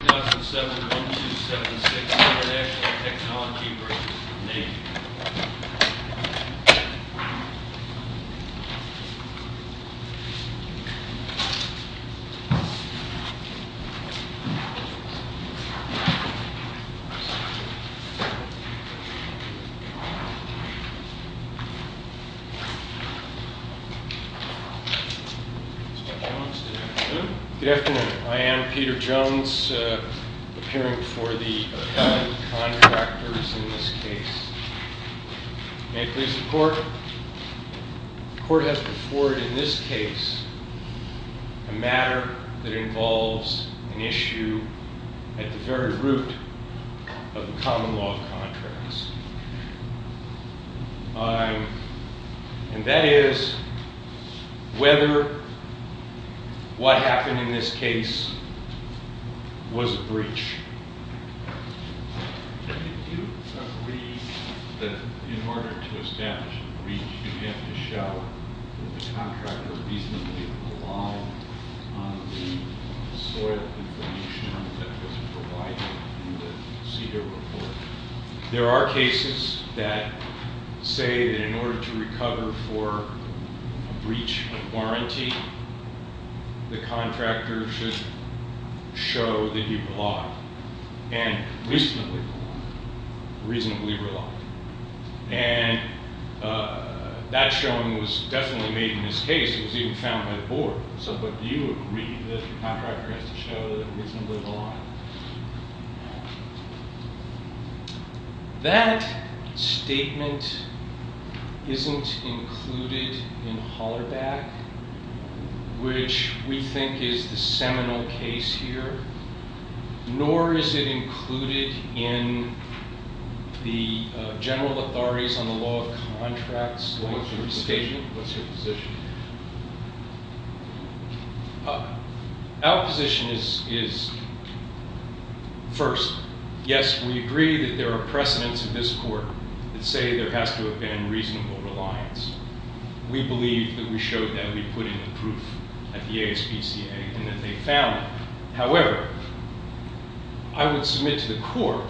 2007-1276, International Technology v. Navy Good afternoon, I am Peter Jones, appearing for the new contractors in this case. May it please the court, the court has before it in this case a matter that involves an issue at the very root of the common law of contracts. And that is whether what happened in this case was a breach. Do you agree that in order to establish a breach you have to show that the contractor reasonably relied on the soil information that was provided in the CDER report? There are cases that say that in order to recover for a breach of warranty, the contractor should show that he relied, and reasonably relied. And that showing was definitely made in this case, it was even found by the board. So do you agree that the contractor has to show that he reasonably relied? That statement isn't included in Hollerback, which we think is the seminal case here, nor is it included in the General Authorities on the Law of Contracts. What's your position? Our position is first, yes we agree that there are precedents in this court that say there has to have been reasonable reliance. We believe that we showed that we put in the proof at the ASPCA and that they found it. However, I would submit to the court,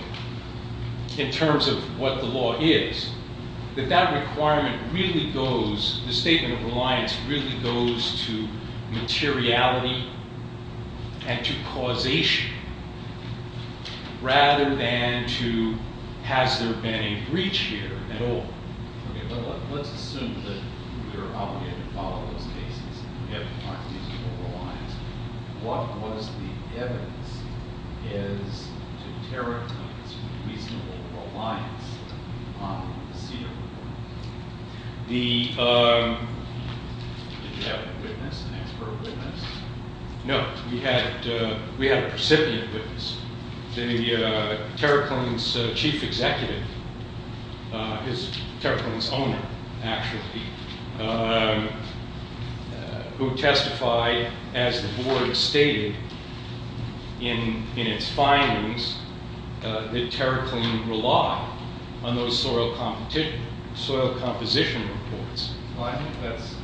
in terms of what the law is, that that requirement really goes, the statement of reliance really goes to materiality and to causation, rather than to has there been a breach here at all. Let's assume that we are obligated to follow those cases and we have to find reasonable reliance. What was the evidence as to TerraCline's reasonable reliance on the CDER report? Did you have a witness, an expert witness? No, we had a recipient witness. The TerraCline's chief executive, TerraCline's owner actually, who testified, as the board stated in its findings, that TerraCline relied on those soil composition reports. Well, I think that's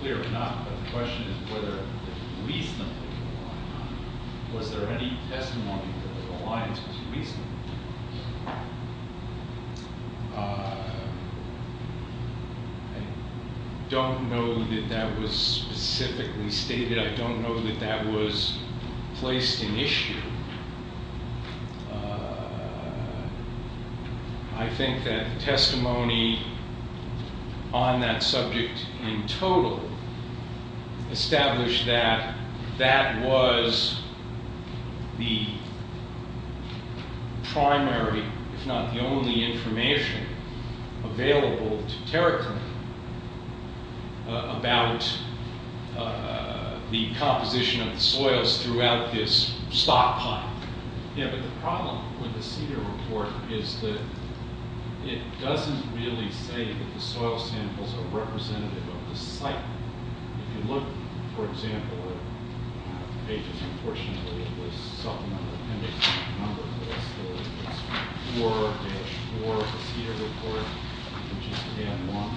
clear or not, but the question is whether it was reasonably relied on. Was there any testimony that the reliance was reasonably relied on? I don't know that that was specifically stated. I don't know that that was placed in issue. I think that the testimony on that subject in total established that that was the primary, if not the only, information available to TerraCline about the composition of the soils throughout this stockpile. Yeah, but the problem with the CDER report is that it doesn't really say that the soil samples are representative of the site. If you look, for example, at the patient, unfortunately, with supplemental appendix number 4-4 of the CDER report, which is scan 1.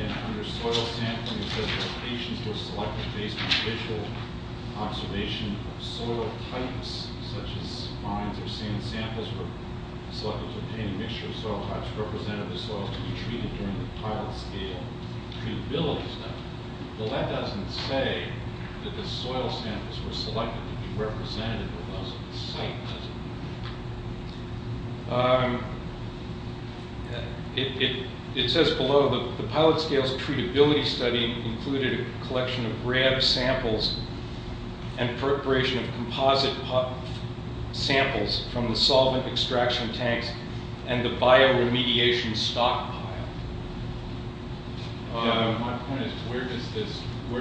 And under soil sampling, it says that patients were selected based on visual observation of soil types, such as spines or sand samples were selected to obtain a mixture of soil types representative of the soils to be treated during the pilot scale treatability study. Well, that doesn't say that the soil samples were selected to be representative of those of the site, does it? It says below, the pilot scale's treatability study included a collection of grab samples and preparation of composite samples from the solvent extraction tanks and the bioremediation stockpile. My point is, where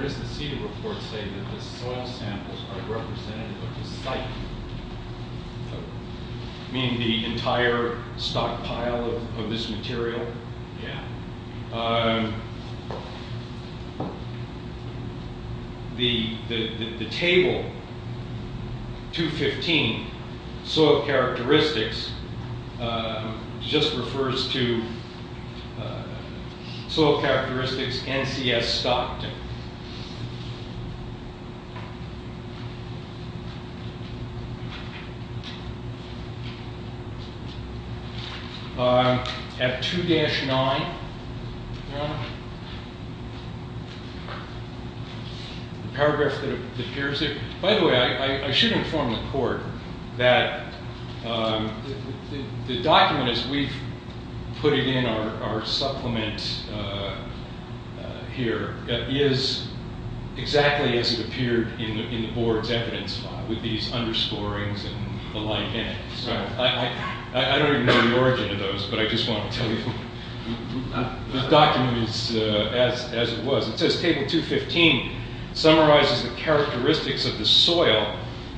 does the CDER report say that the soil samples are representative of the site? Meaning the entire stockpile of this material? Yeah. The table 215, soil characteristics, just refers to soil characteristics NCS stocked. At 2-9, the paragraph that appears there, by the way, I should inform the court that the document, as we've put it in our supplement here, is exactly as it appeared in the board's evidence file, with these underscorings and the like in it. So I don't even know the origin of those, but I just want to tell you the document is as it was. It says table 215 summarizes the characteristics of the soil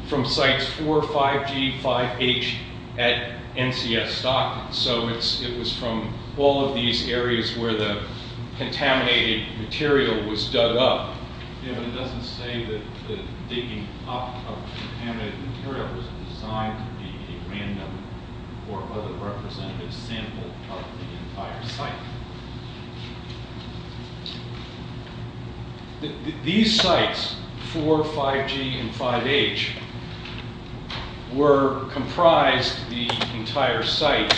from sites 4, 5G, 5H at NCS stock. So it was from all of these areas where the contaminated material was dug up. Yeah, but it doesn't say that the digging up of contaminated material was designed to be a random or other representative sample of the entire site. These sites, 4, 5G, and 5H, were comprised of the entire site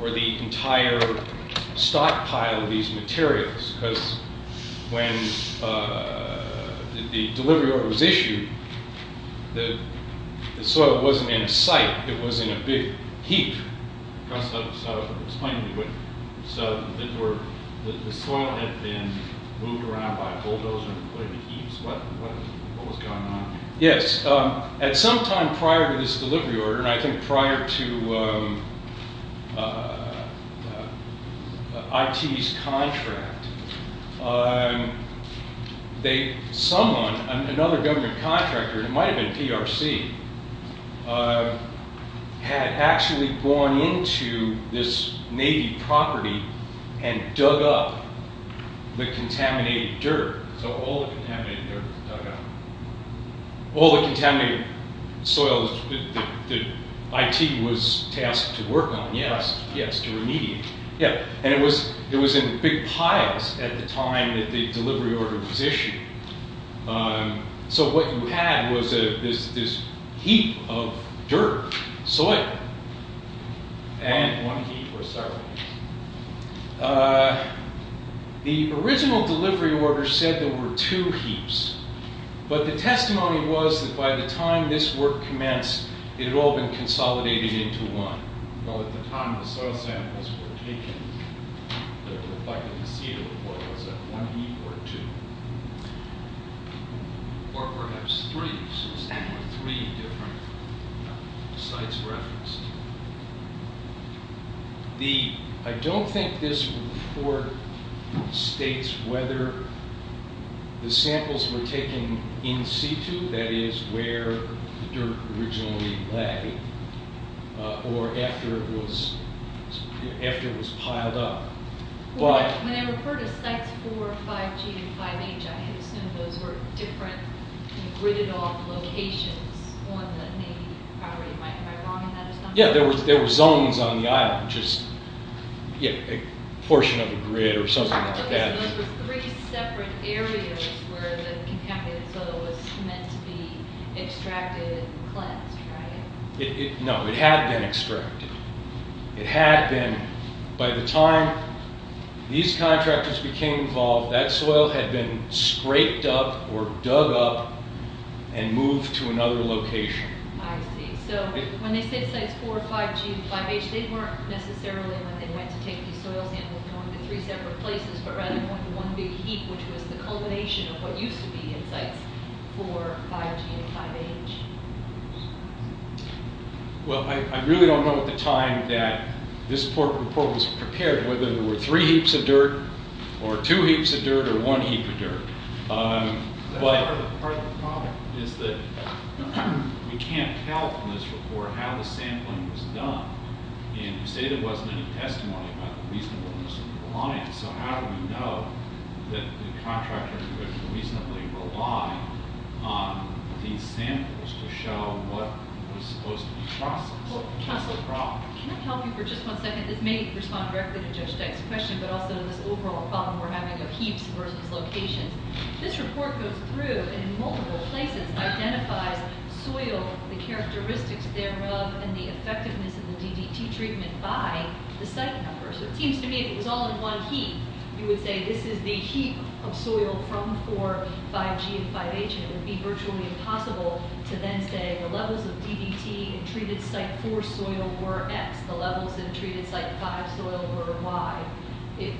or the entire stockpile of these materials. Because when the delivery order was issued, the soil wasn't in a site, it was in a big heap. So the soil had been moved around by bulldozers and put into heaps? What was going on? Yes, at some time prior to this delivery order, and I think prior to IT's contract, someone, another government contractor, it might have been PRC, had actually gone into this Navy property and dug up the contaminated dirt. So all the contaminated dirt was dug up. All the contaminated soil that IT was tasked to work on, yes, to remediate. And it was in big piles at the time that the delivery order was issued. So what you had was this heap of dirt, soil, and one heap or several. The original delivery order said there were two heaps, but the testimony was that by the time this work commenced, it had all been consolidated into one. Well, at the time the soil samples were taken, it looked like the procedure was one heap or two. Or perhaps three, since there were three different sites referenced. I don't think this report states whether the samples were taken in situ, that is, where the dirt originally lay, or after it was piled up. When I refer to sites 4, 5G, and 5H, I assume those were different gridded off locations on the Navy property. Am I wrong on that? Yeah, there were zones on the island, just a portion of a grid or something like that. So those were three separate areas where the contaminated soil was meant to be extracted and cleansed, right? No, it had been extracted. It had been. By the time these contractors became involved, that soil had been scraped up or dug up and moved to another location. I see. So when they say sites 4, 5G, and 5H, they weren't necessarily when they went to take these soil samples going to three separate places, but rather going to one big heap, which was the culmination of what used to be in sites 4, 5G, and 5H. Well, I really don't know at the time that this report was prepared, whether there were three heaps of dirt, or two heaps of dirt, or one heap of dirt. Part of the problem is that we can't tell from this report how the sampling was done. And you say there wasn't any testimony about the reasonableness of the reliance. So how do we know that the contractors would reasonably rely on these samples to show what was supposed to be processed? That's the problem. Counselor, can I help you for just one second? This may respond directly to Judge Dyke's question, but also to this overall problem we're having of heaps versus locations. This report goes through and in multiple places identifies soil, the characteristics thereof, and the effectiveness of the DDT treatment by the site number. So it seems to me if it was all in one heap, you would say this is the heap of soil from 4, 5G, and 5H, and it would be virtually impossible to then say the levels of DDT in treated site 4 soil were X. The levels in treated site 5 soil were Y. If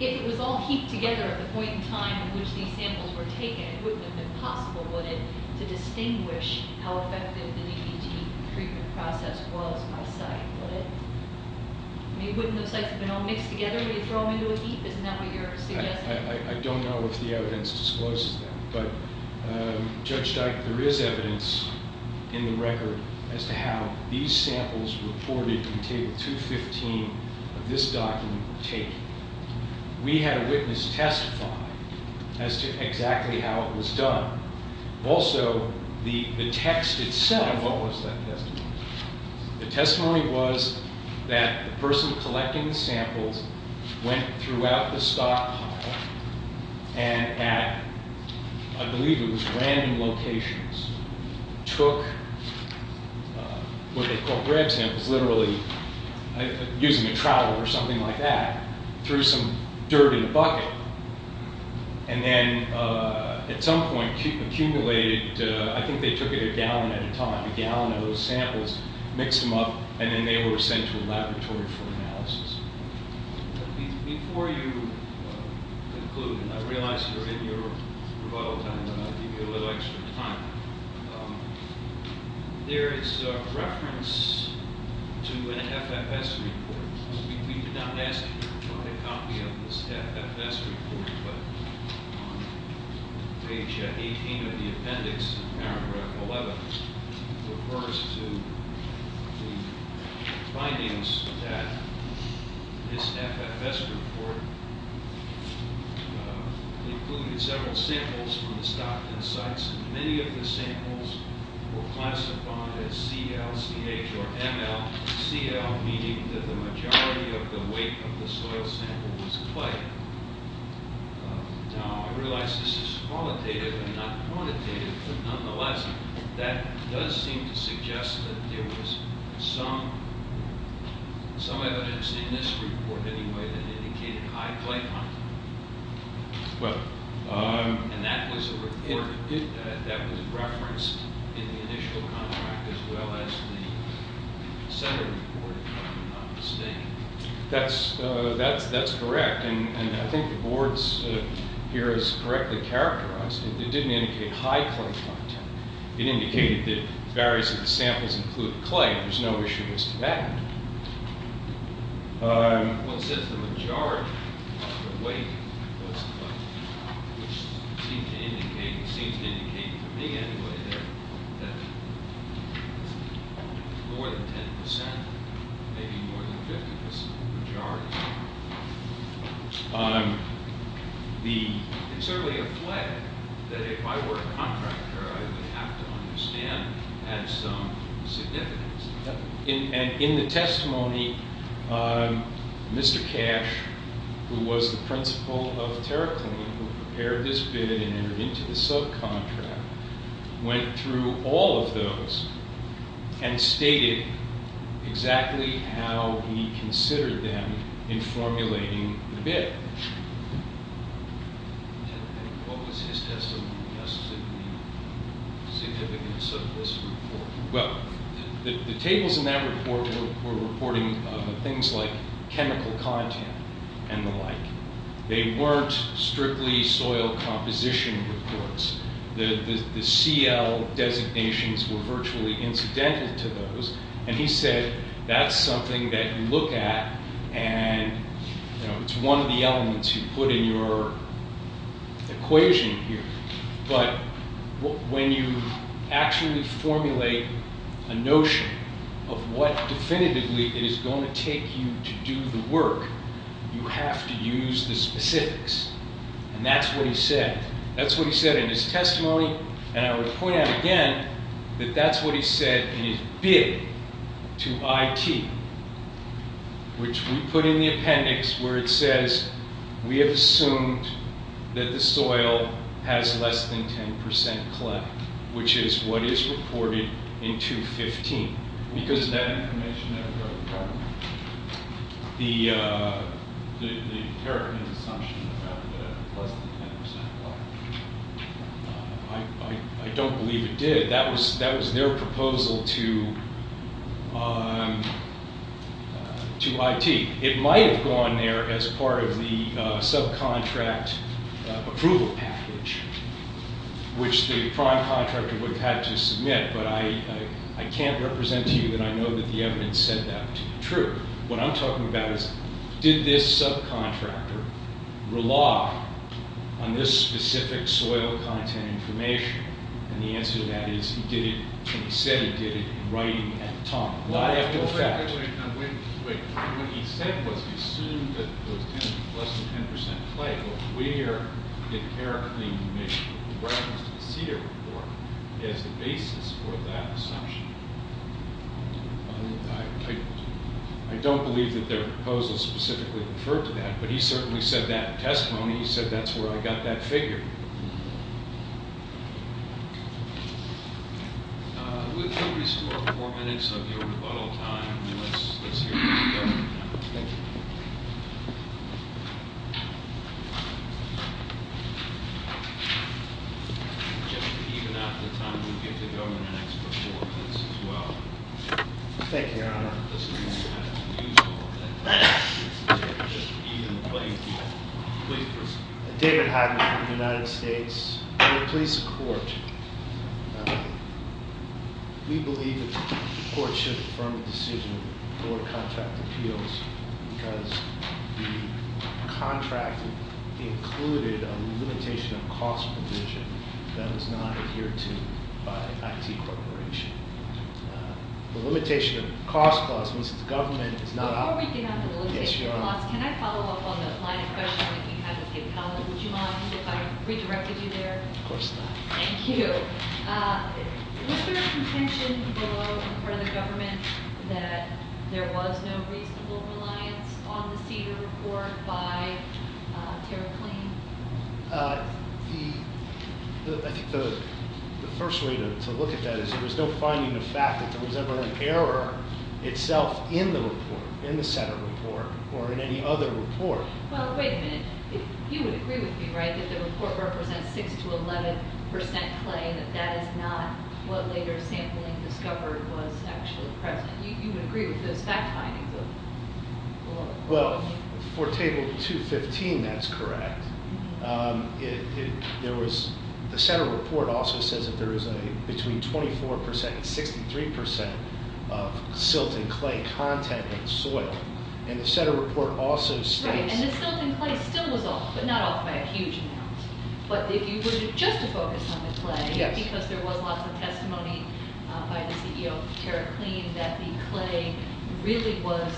it was all heaped together at the point in time in which these samples were taken, it wouldn't have been possible, would it, to distinguish how effective the DDT treatment process was by site, would it? I mean, wouldn't those sites have been all mixed together? Would you throw them into a heap? Isn't that what you're suggesting? I don't know if the evidence discloses that. But, Judge Dyke, there is evidence in the record as to how these samples reported in Table 215 of this document were taken. We had a witness testify as to exactly how it was done. Also, the text itself, what was that testimony? The testimony was that the person collecting the samples went throughout the stockpile and at, I believe it was random locations, took what they call grab samples, literally using a trowel or something like that, threw some dirt in a bucket, and then at some point accumulated, I think they took it a gallon at a time, a gallon of those samples, mixed them up, and then they were sent to a laboratory for analysis. Before you conclude, and I realize you're in your rebuttal time, and I'll give you a little extra time, there is reference to an FFS report. We did not ask for a copy of this FFS report, but on page 18 of the appendix, paragraph 11, refers to the findings that this FFS report included several samples from the stockpile sites, and many of the samples were classified as CL, CH, or ML. CL meaning that the majority of the weight of the soil sample was clay. Now, I realize this is qualitative and not quantitative, but nonetheless, that does seem to suggest that there was some evidence in this report anyway that indicated high clay content. And that was a report that was referenced in the initial contract as well as the center report, if I'm not mistaken. That's correct, and I think the boards here has correctly characterized it. It didn't indicate high clay content. It indicated that various of the samples included clay, and there's no issue with that. Well, it says the majority of the weight was clay, which seems to indicate, for me anyway, that more than 10%, maybe more than 50%, was the majority. It's certainly a flag that if I were a contractor, I would have to understand that some significance. And in the testimony, Mr. Cash, who was the principal of TerraClean, who prepared this bid and entered into the subcontract, went through all of those and stated exactly how he considered them in formulating the bid. What was his testimony suggesting the significance of this report? Well, the tables in that report were reporting things like chemical content and the like. They weren't strictly soil composition reports. The CL designations were virtually incidental to those, and he said that's something that you look at, and it's one of the elements you put in your equation here. But when you actually formulate a notion of what definitively it is going to take you to do the work, you have to use the specifics, and that's what he said. That's what he said in his testimony, and I would point out again that that's what he said in his bid to IT, which we put in the appendix where it says, we have assumed that the soil has less than 10% clay, which is what is reported in 215, because of that information that we got from the TerraClean's assumption about less than 10% clay. I don't believe it did. That was their proposal to IT. It might have gone there as part of the subcontract approval package, which the prime contractor would have had to submit, but I can't represent to you that I know that the evidence said that to be true. What I'm talking about is, did this subcontractor rely on this specific soil content information? And the answer to that is he did it, and he said he did it in writing at the time. Not after the fact. Wait, wait, wait. What he said was he assumed that there was less than 10% clay, but we at TerraClean make reference to the Cedar report as the basis for that assumption. I don't believe that their proposal specifically referred to that, but he certainly said that in testimony. He said that's where I got that figure. With every score of four minutes of your rebuttal time, let's hear from the government now. Thank you. Just even out of the time, we'll give the government an extra four minutes as well. Thank you, Your Honor. David Hagman from the United States. We're a police court. We believe that the court should affirm the decision for contract appeals because the contract included a limitation of cost provision that was not adhered to by IT Corporation. The limitation of cost clause means that the government is not operating. Before we get on the limitation of cost, can I follow up on the line of questioning that you had with Dave Powell? Would you mind if I redirected you there? Of course not. Thank you. Was there a contention below on the part of the government that there was no reasonable reliance on the Cedar report by TerraClean? I think the first way to look at that is there was no finding of fact that there was ever an error itself in the report, in the Cedar report, or in any other report. Well, wait a minute. You would agree with me, right, that the report represents 6 to 11% claim, that that is not what later sampling discovered was actually present. You would agree with those fact findings? Well, for table 215, that's correct. The Cedar report also says that there is between 24% and 63% of silt and clay content in the soil. And the Cedar report also states- Right, and the silt and clay still was off, but not off by a huge amount. But if you were just to focus on the clay, because there was lots of testimony by the CEO of TerraClean that the clay really was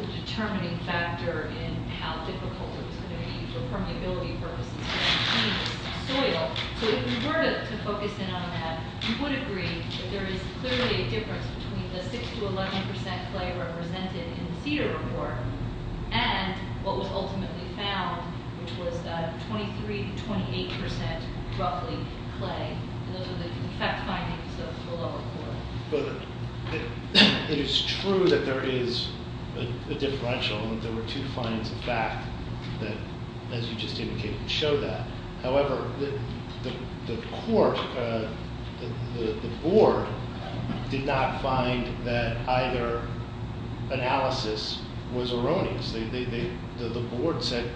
the determining factor in how difficult it was going to be for permeability purposes to maintain the soil. So if you were to focus in on that, you would agree that there is clearly a difference between the 6 to 11% clay represented in the Cedar report and what was ultimately found, which was 23 to 28%, roughly, clay. Those are the fact findings of the lower part. It is true that there is a differential, that there were two findings of fact that, as you just indicated, show that. However, the court, the board, did not find that either analysis was erroneous. The board said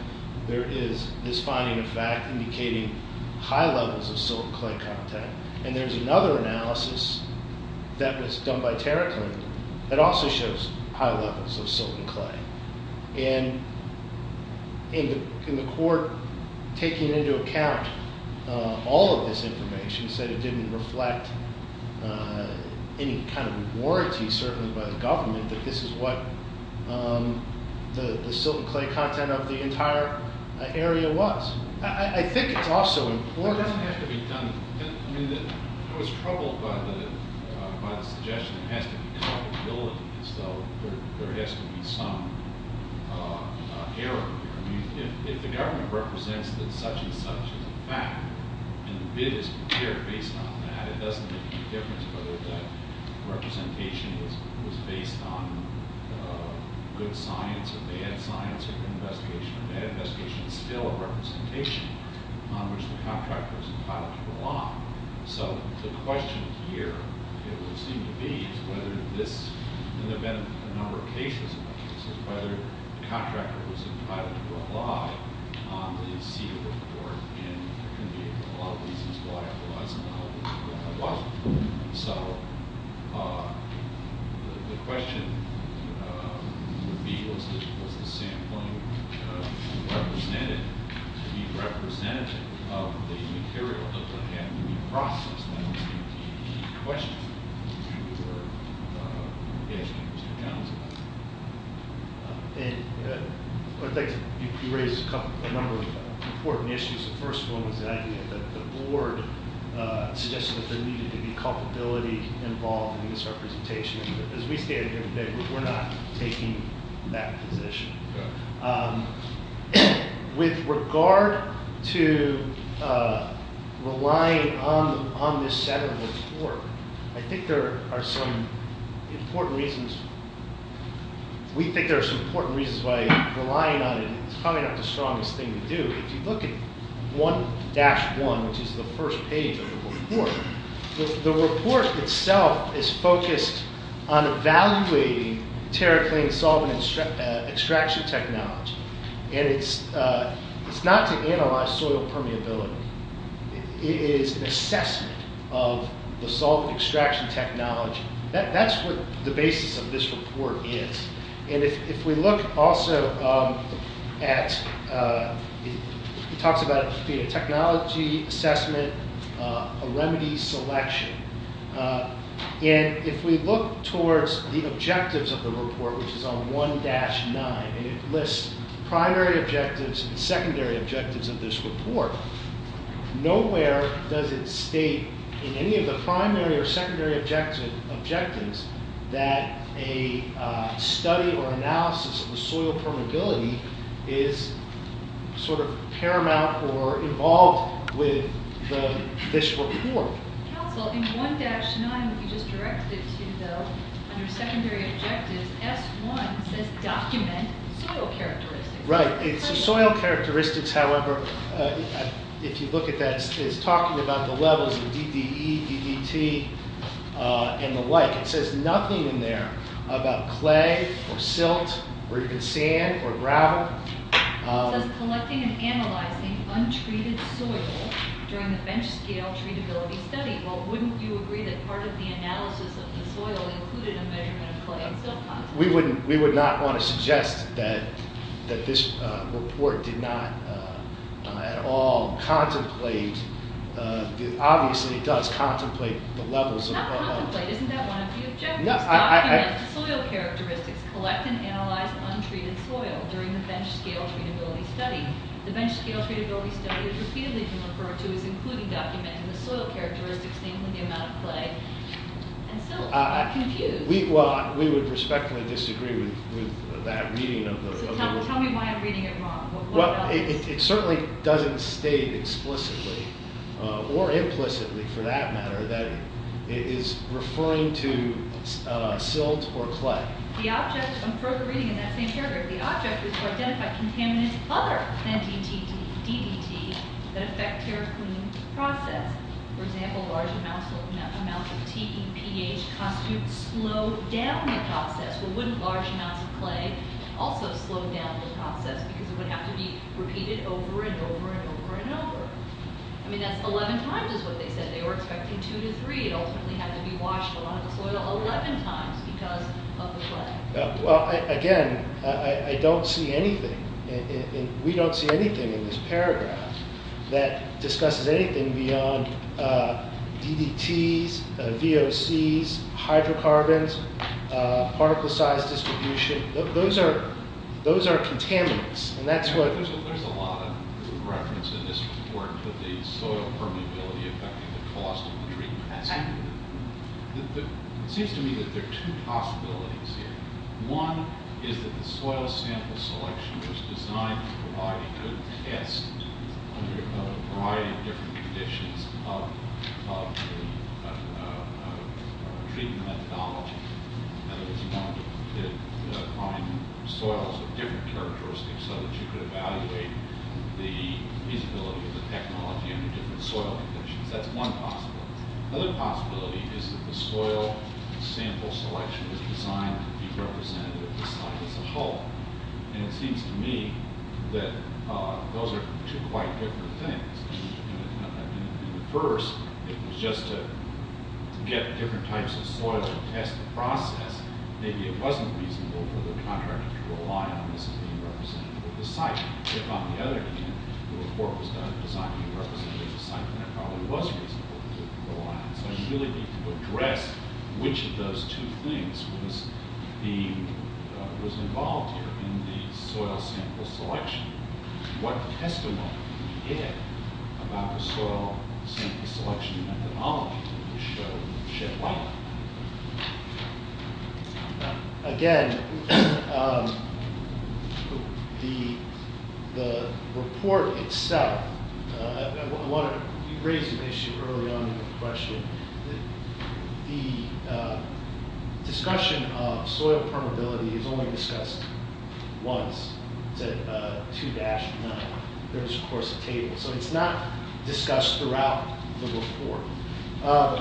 there is this finding of fact indicating high levels of silt and clay content. And there is another analysis that was done by TerraClean that also shows high levels of silt and clay. And the court, taking into account all of this information, said it didn't reflect any kind of warranty, certainly by the government, that this is what the silt and clay content of the entire area was. I think it's also important... I was troubled by the suggestion that it has to be culpability, so there has to be some error here. If the government represents that such and such is a fact and the bid is prepared based on that, it doesn't make any difference whether that representation was based on good science or bad science or investigation. That investigation is still a representation on which the contractor was entitled to rely. So the question here, it would seem to be, is whether this, and there have been a number of cases about this, is whether the contractor was entitled to rely on the CEDA report. And there can be a lot of reasons why it was, and a lot of reasons why it wasn't. So the question would be, was the sampling represented to be representative of the material that had to be processed? That would be the question. I'd like to raise a number of important issues. The first one is the idea that the board suggested that there needed to be culpability involved in this representation. As we stated here today, we're not taking that position. With regard to relying on this CEDA report, I think there are some important reasons. We think there are some important reasons why relying on it is probably not the strongest thing to do. If you look at 1-1, which is the first page of the report, the report itself is focused on evaluating TerraClean solvent extraction technology. And it's not to analyze soil permeability. It is an assessment of the solvent extraction technology. That's what the basis of this report is. And if we look also at, it talks about a technology assessment, a remedy selection. And if we look towards the objectives of the report, which is on 1-9, and it lists primary objectives and secondary objectives of this report, nowhere does it state in any of the primary or secondary objectives that a study or analysis of the soil permeability is sort of paramount or involved with this report. Council, in 1-9, you just directed it to under secondary objectives. S1 says document soil characteristics. Right. So soil characteristics, however, if you look at that, it's talking about the levels of DDE, DDT, and the like. It says nothing in there about clay or silt or even sand or gravel. It says collecting and analyzing untreated soil during the bench scale treatability study. Well, wouldn't you agree that part of the analysis of the soil included a measurement of clay and silt content? We would not want to suggest that this report did not at all contemplate, obviously it does contemplate the levels of... It does not contemplate. Isn't that one of the objectives? Document the soil characteristics, collect and analyze untreated soil during the bench scale treatability study. The bench scale treatability study is repeatedly referred to as including documenting the soil characteristics, namely the amount of clay and silt. I'm confused. Well, we would respectfully disagree with that reading of the... Tell me why I'm reading it wrong. It certainly doesn't state explicitly or implicitly, for that matter, that it is referring to silt or clay. The object... I'm further reading in that same paragraph. The object is to identify contaminants other than DDT that affect tear cleaning process. For example, large amounts of TEPH constitute slow down the process. Well, wouldn't large amounts of clay also slow down the process because it would have to be repeated over and over and over and over? I mean, that's 11 times is what they said. They were expecting 2 to 3. It ultimately had to be washed a lot of the soil 11 times because of the clay. Well, again, I don't see anything. We don't see anything in this paragraph that discusses anything beyond DDTs, VOCs, hydrocarbons, particle size distribution. Those are contaminants, and that's what... There's a lot of reference in this report to the soil permeability affecting the cost of the treatment. It seems to me that there are two possibilities here. One is that the soil sample selection was designed to provide a good test under a variety of different conditions of the treatment methodology. In other words, you wanted to find soils of different characteristics so that you could evaluate the feasibility of the technology under different soil conditions. That's one possibility. Another possibility is that the soil sample selection was designed to be representative of the site as a whole. And it seems to me that those are two quite different things. At first, it was just to get different types of soil to test the process. Maybe it wasn't reasonable for the contractor to rely on this as being representative of the site. If, on the other hand, the report was designed to be representative of the site, then it probably was reasonable to rely on. So you really need to address which of those two things was involved here in the soil sample selection. Again, the report itself raised an issue early on in the question. The discussion of soil permeability is only discussed once. It's at 2-9. There's, of course, a table. So it's not discussed throughout the report. At 1-9,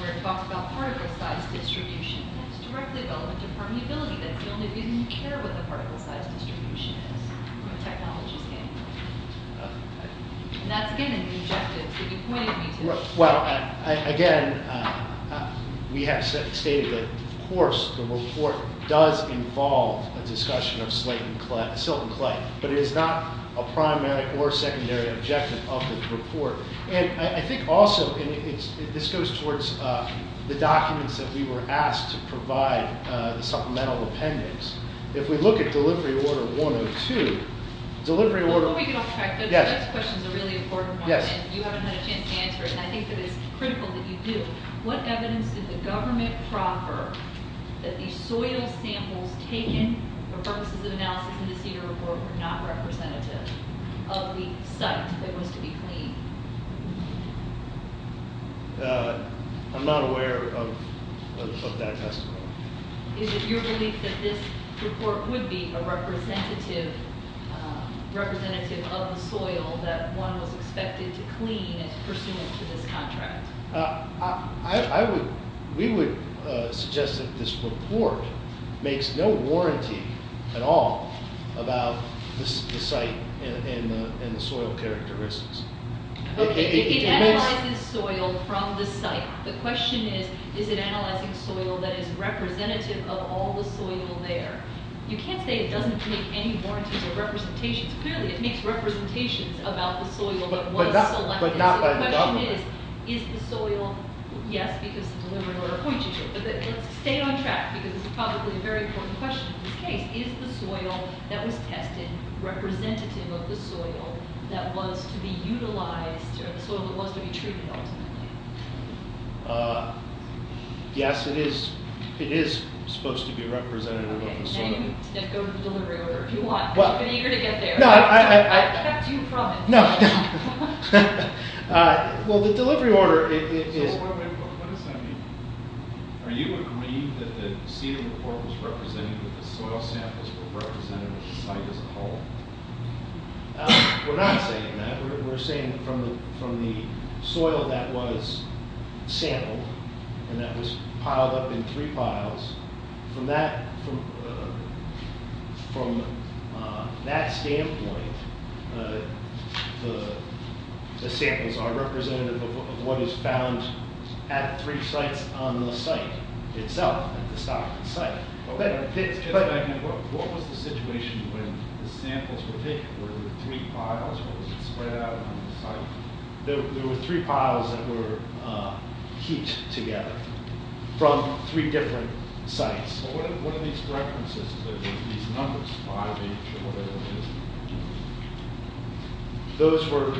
where it talks about particle size distribution, that's directly relevant to permeability. That's the only reason you care what the particle size distribution is when technology is handling it. And that's, again, an objective. You pointed me to it. Well, again, we have stated that, of course, the report does involve a discussion of silt and clay, but it is not a primary or secondary objective of the report. And I think also this goes towards the documents that we were asked to provide the supplemental appendix. If we look at Delivery Order 102, delivery order – I think it is critical that you do – what evidence did the government proffer that the soil samples taken for purposes of analysis in this year's report were not representative of the site that was to be cleaned? I'm not aware of that testimony. Is it your belief that this report would be a representative of the soil that one was expected to clean as pursuant to this contract? We would suggest that this report makes no warranty at all about the site and the soil characteristics. It analyzes soil from the site. The question is, is it analyzing soil that is representative of all the soil there? You can't say it doesn't make any warranties or representations. Clearly it makes representations about the soil that was selected. So the question is, is the soil – yes, because the delivery order points you to it. But let's stay on track because this is probably a very important question in this case. Is the soil that was tested representative of the soil that was to be utilized or the soil that was to be treated ultimately? You can go to the delivery order if you want. I'd be eager to get there. I've kept you from it. No, no. Well, the delivery order is – So what does that mean? Are you agreeing that the seed report was representing that the soil samples were representative of the site as a whole? We're not saying that. We're saying that from the soil that was sampled and that was piled up in three piles, from that standpoint, the samples are representative of what is found at three sites on the site itself, at the site. What was the situation when the samples were taken? Were there three piles or was it spread out on the site? There were three piles that were heaped together from three different sites. Well, what are these references? These numbers, 5H or whatever it is. Those were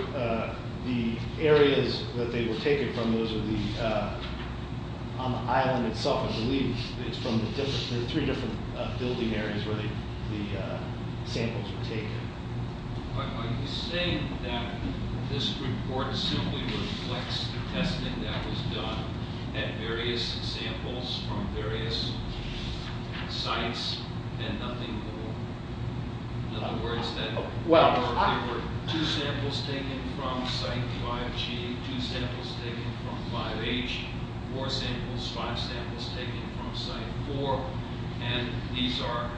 the areas that they were taken from. Those are the – on the island itself, I believe, it's from the three different building areas where the samples were taken. Are you saying that this report simply reflects the testing that was done at various samples from various sites and nothing more? In other words, that there were two samples taken from Site 5G, two samples taken from 5H, four samples, five samples taken from Site 4, and these are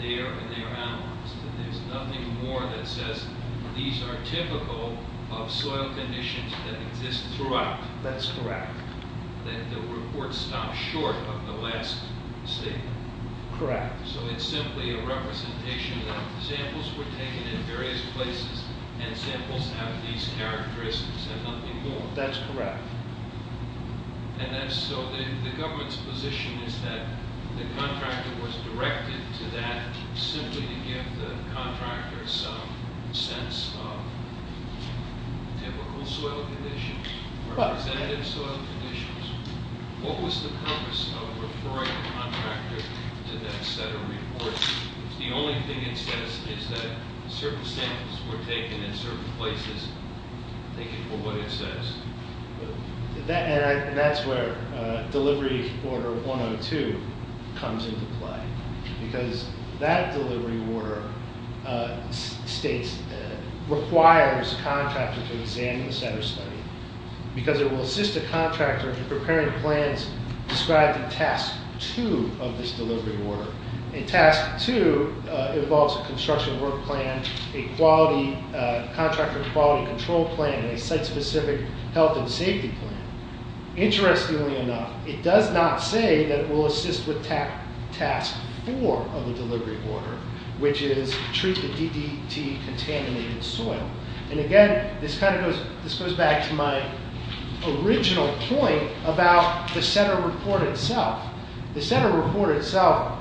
there and they are analyzed, and there's nothing more that says these are typical of soil conditions that exist throughout. That's correct. That the report stopped short of the last statement. Correct. So it's simply a representation that samples were taken at various places and samples have these characteristics and nothing more. That's correct. And so the government's position is that the contractor was directed to that simply to give the contractor some sense of typical soil conditions, representative soil conditions. What was the purpose of referring the contractor to that set of reports if the only thing it says is that certain samples were taken in certain places? I'm thinking of what it says. And that's where Delivery Order 102 comes into play because that delivery order states, requires the contractor to examine the set of study because it will assist the contractor in preparing plans described in Task 2 of this delivery order. And Task 2 involves a construction work plan, a contractor quality control plan, and a site-specific health and safety plan. Interestingly enough, it does not say that it will assist with Task 4 of the delivery order, which is treat the DDT-contaminated soil. And again, this goes back to my original point about the center report itself. The center report itself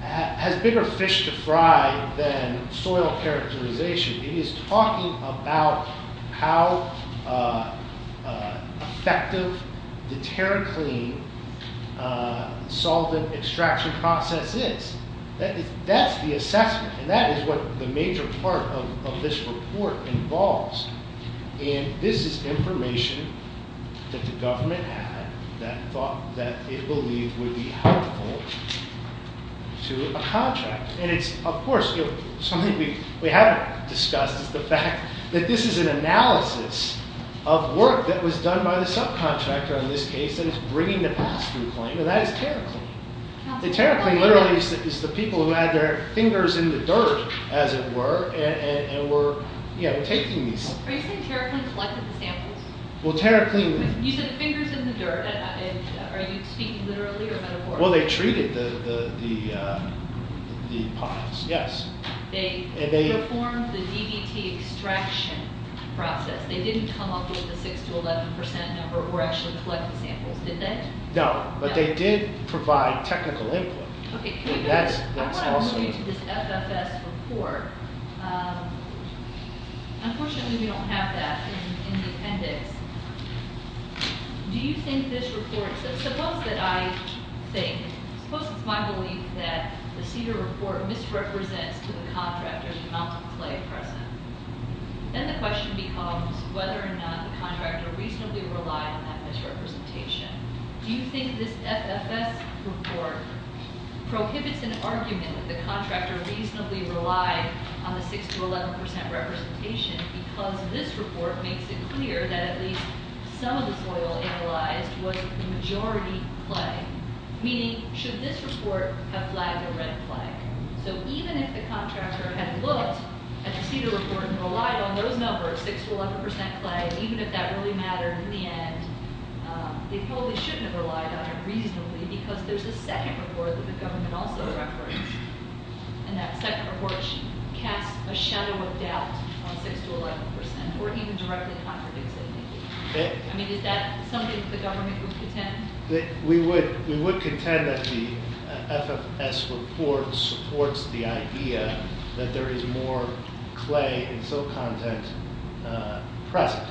has bigger fish to fry than soil characterization. It is talking about how effective the TerraClean solvent extraction process is. That's the assessment, and that is what the major part of this report involves. And this is information that the government had that it believed would be helpful to a contract. And it's, of course, something we haven't discussed, is the fact that this is an analysis of work that was done by the subcontractor on this case that is bringing the pass-through claim, and that is TerraClean. TerraClean literally is the people who had their fingers in the dirt, as it were, and were taking these. Are you saying TerraClean collected the samples? Well, TerraClean... You said fingers in the dirt. Are you speaking literally or metaphorically? Well, they treated the ponds, yes. They performed the DDT extraction process. They didn't come up with a 6% to 11% number or actually collect the samples, did they? No, but they did provide technical input. I want to move you to this FFS report. Unfortunately, we don't have that in the appendix. Do you think this report... Suppose that I think... Suppose it's my belief that the CDER report misrepresents to the contractor the amount of clay present. Then the question becomes whether or not the contractor reasonably relied on that misrepresentation. Do you think this FFS report prohibits an argument that the contractor reasonably relied on the 6% to 11% representation because this report makes it clear that at least some of the soil analyzed was the majority clay? Meaning, should this report have flagged a red flag? Even if the contractor had looked at the CDER report and relied on those numbers, 6% to 11% clay, even if that really mattered in the end, they probably shouldn't have relied on it reasonably because there's a second report that the government also records. And that second report casts a shadow of doubt on 6% to 11% or even directly contradicts anything. I mean, is that something that the government would contend? We would contend that the FFS report supports the idea that there is more clay and soil content present.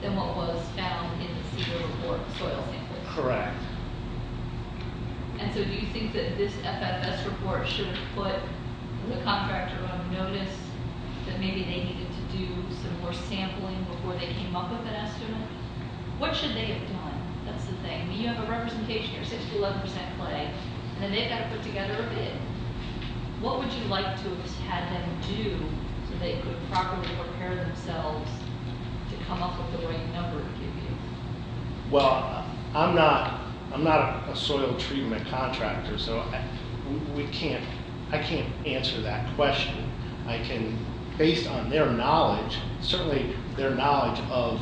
Than what was found in the CDER report soil sampling? Correct. And so do you think that this FFS report should have put the contractor on notice that maybe they needed to do some more sampling before they came up with an estimate? What should they have done? That's the thing. You have a representation here, 6% to 11% clay, and then they've got to put together a bid. What would you like to have them do so they could properly prepare themselves to come up with the right number to give you? Well, I'm not a soil treatment contractor, so I can't answer that question. Based on their knowledge, certainly their knowledge of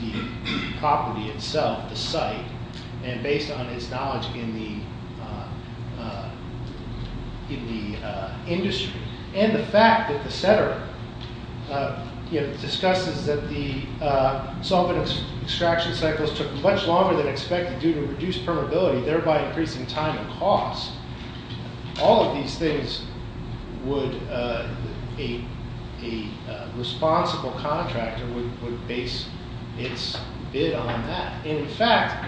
the property itself, the site, and based on its knowledge in the industry, and the fact that the CDER discusses that the solvent extraction cycles took much longer than expected due to reduced permeability, thereby increasing time and cost, all of these things would, a responsible contractor would base its bid on that. In fact,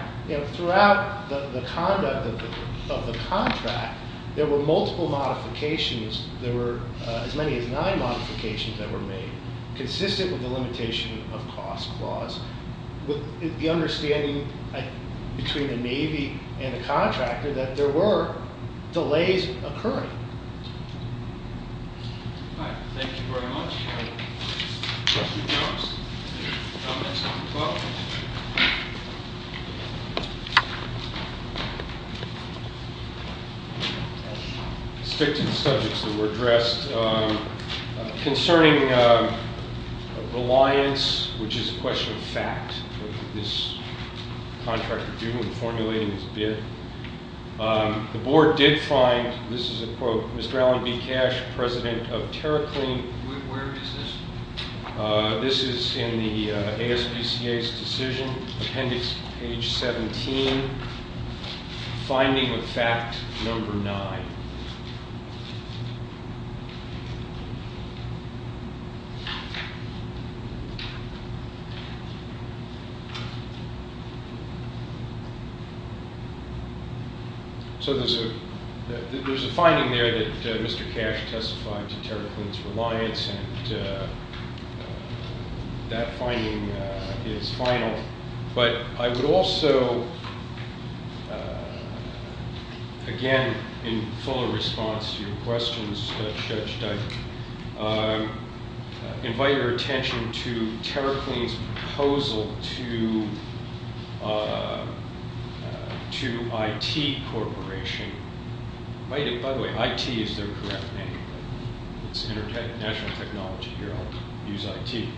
throughout the conduct of the contract, there were multiple modifications. There were as many as nine modifications that were made, consistent with the limitation of cost clause, with the understanding between the Navy and the contractor that there were delays occurring. All right. Thank you very much. Questions or comments? I'll stick to the subjects that were addressed. Concerning reliance, which is a question of fact, what did this contractor do in formulating his bid? The board did find, this is a quote, Mr. Alan B. Cash, president of TerraClean. Where is this? This is in the ASPCA's decision, appendix page 17, finding of fact number nine. So there's a finding there that Mr. Cash testified to TerraClean's reliance, and that finding is final. But I would also, again, in full response to your questions, Judge Dyer, invite your attention to TerraClean's proposal to IT Corporation. By the way, IT is their correct name. It's international technology here. I'll use IT.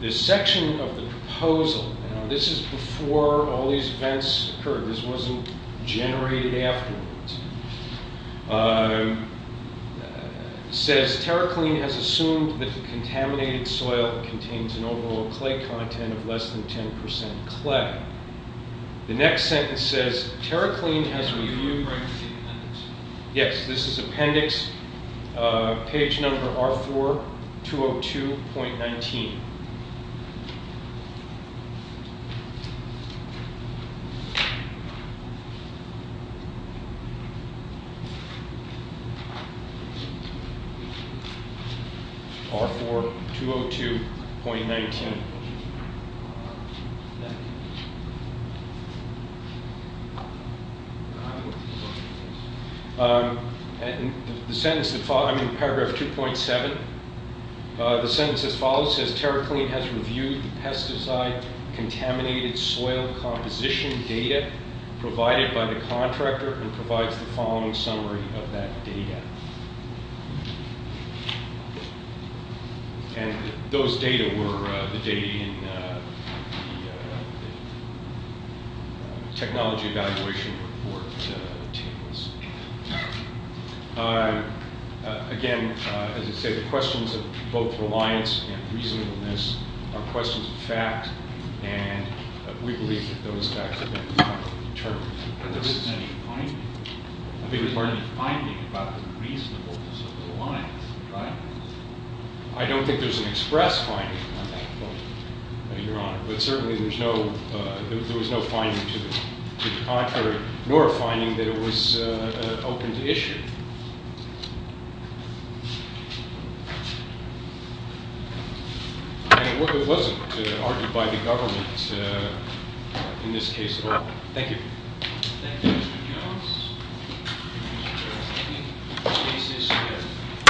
The section of the proposal, this is before all these events occurred. This wasn't generated afterwards. It says, TerraClean has assumed that the contaminated soil contains an overall clay content of less than 10% clay. The next sentence says, TerraClean has reviewed... Yes, this is appendix page number R4-202.19. R4-202.19. In paragraph 2.7, the sentence that follows says, TerraClean has reviewed the pesticide contaminated soil composition data provided by the contractor and provides the following summary of that data. And those data were the data in the technology evaluation report tables. Again, as I said, the questions of both reliance and reasonableness are questions of fact, and we believe that those facts have been determined. But there isn't any finding about the reasonableness of the reliance, right? I don't think there's an express finding on that point, Your Honor. But certainly there was no finding to the contrary, nor a finding that it was an open issue. And it wasn't argued by the government in this case at all. Thank you.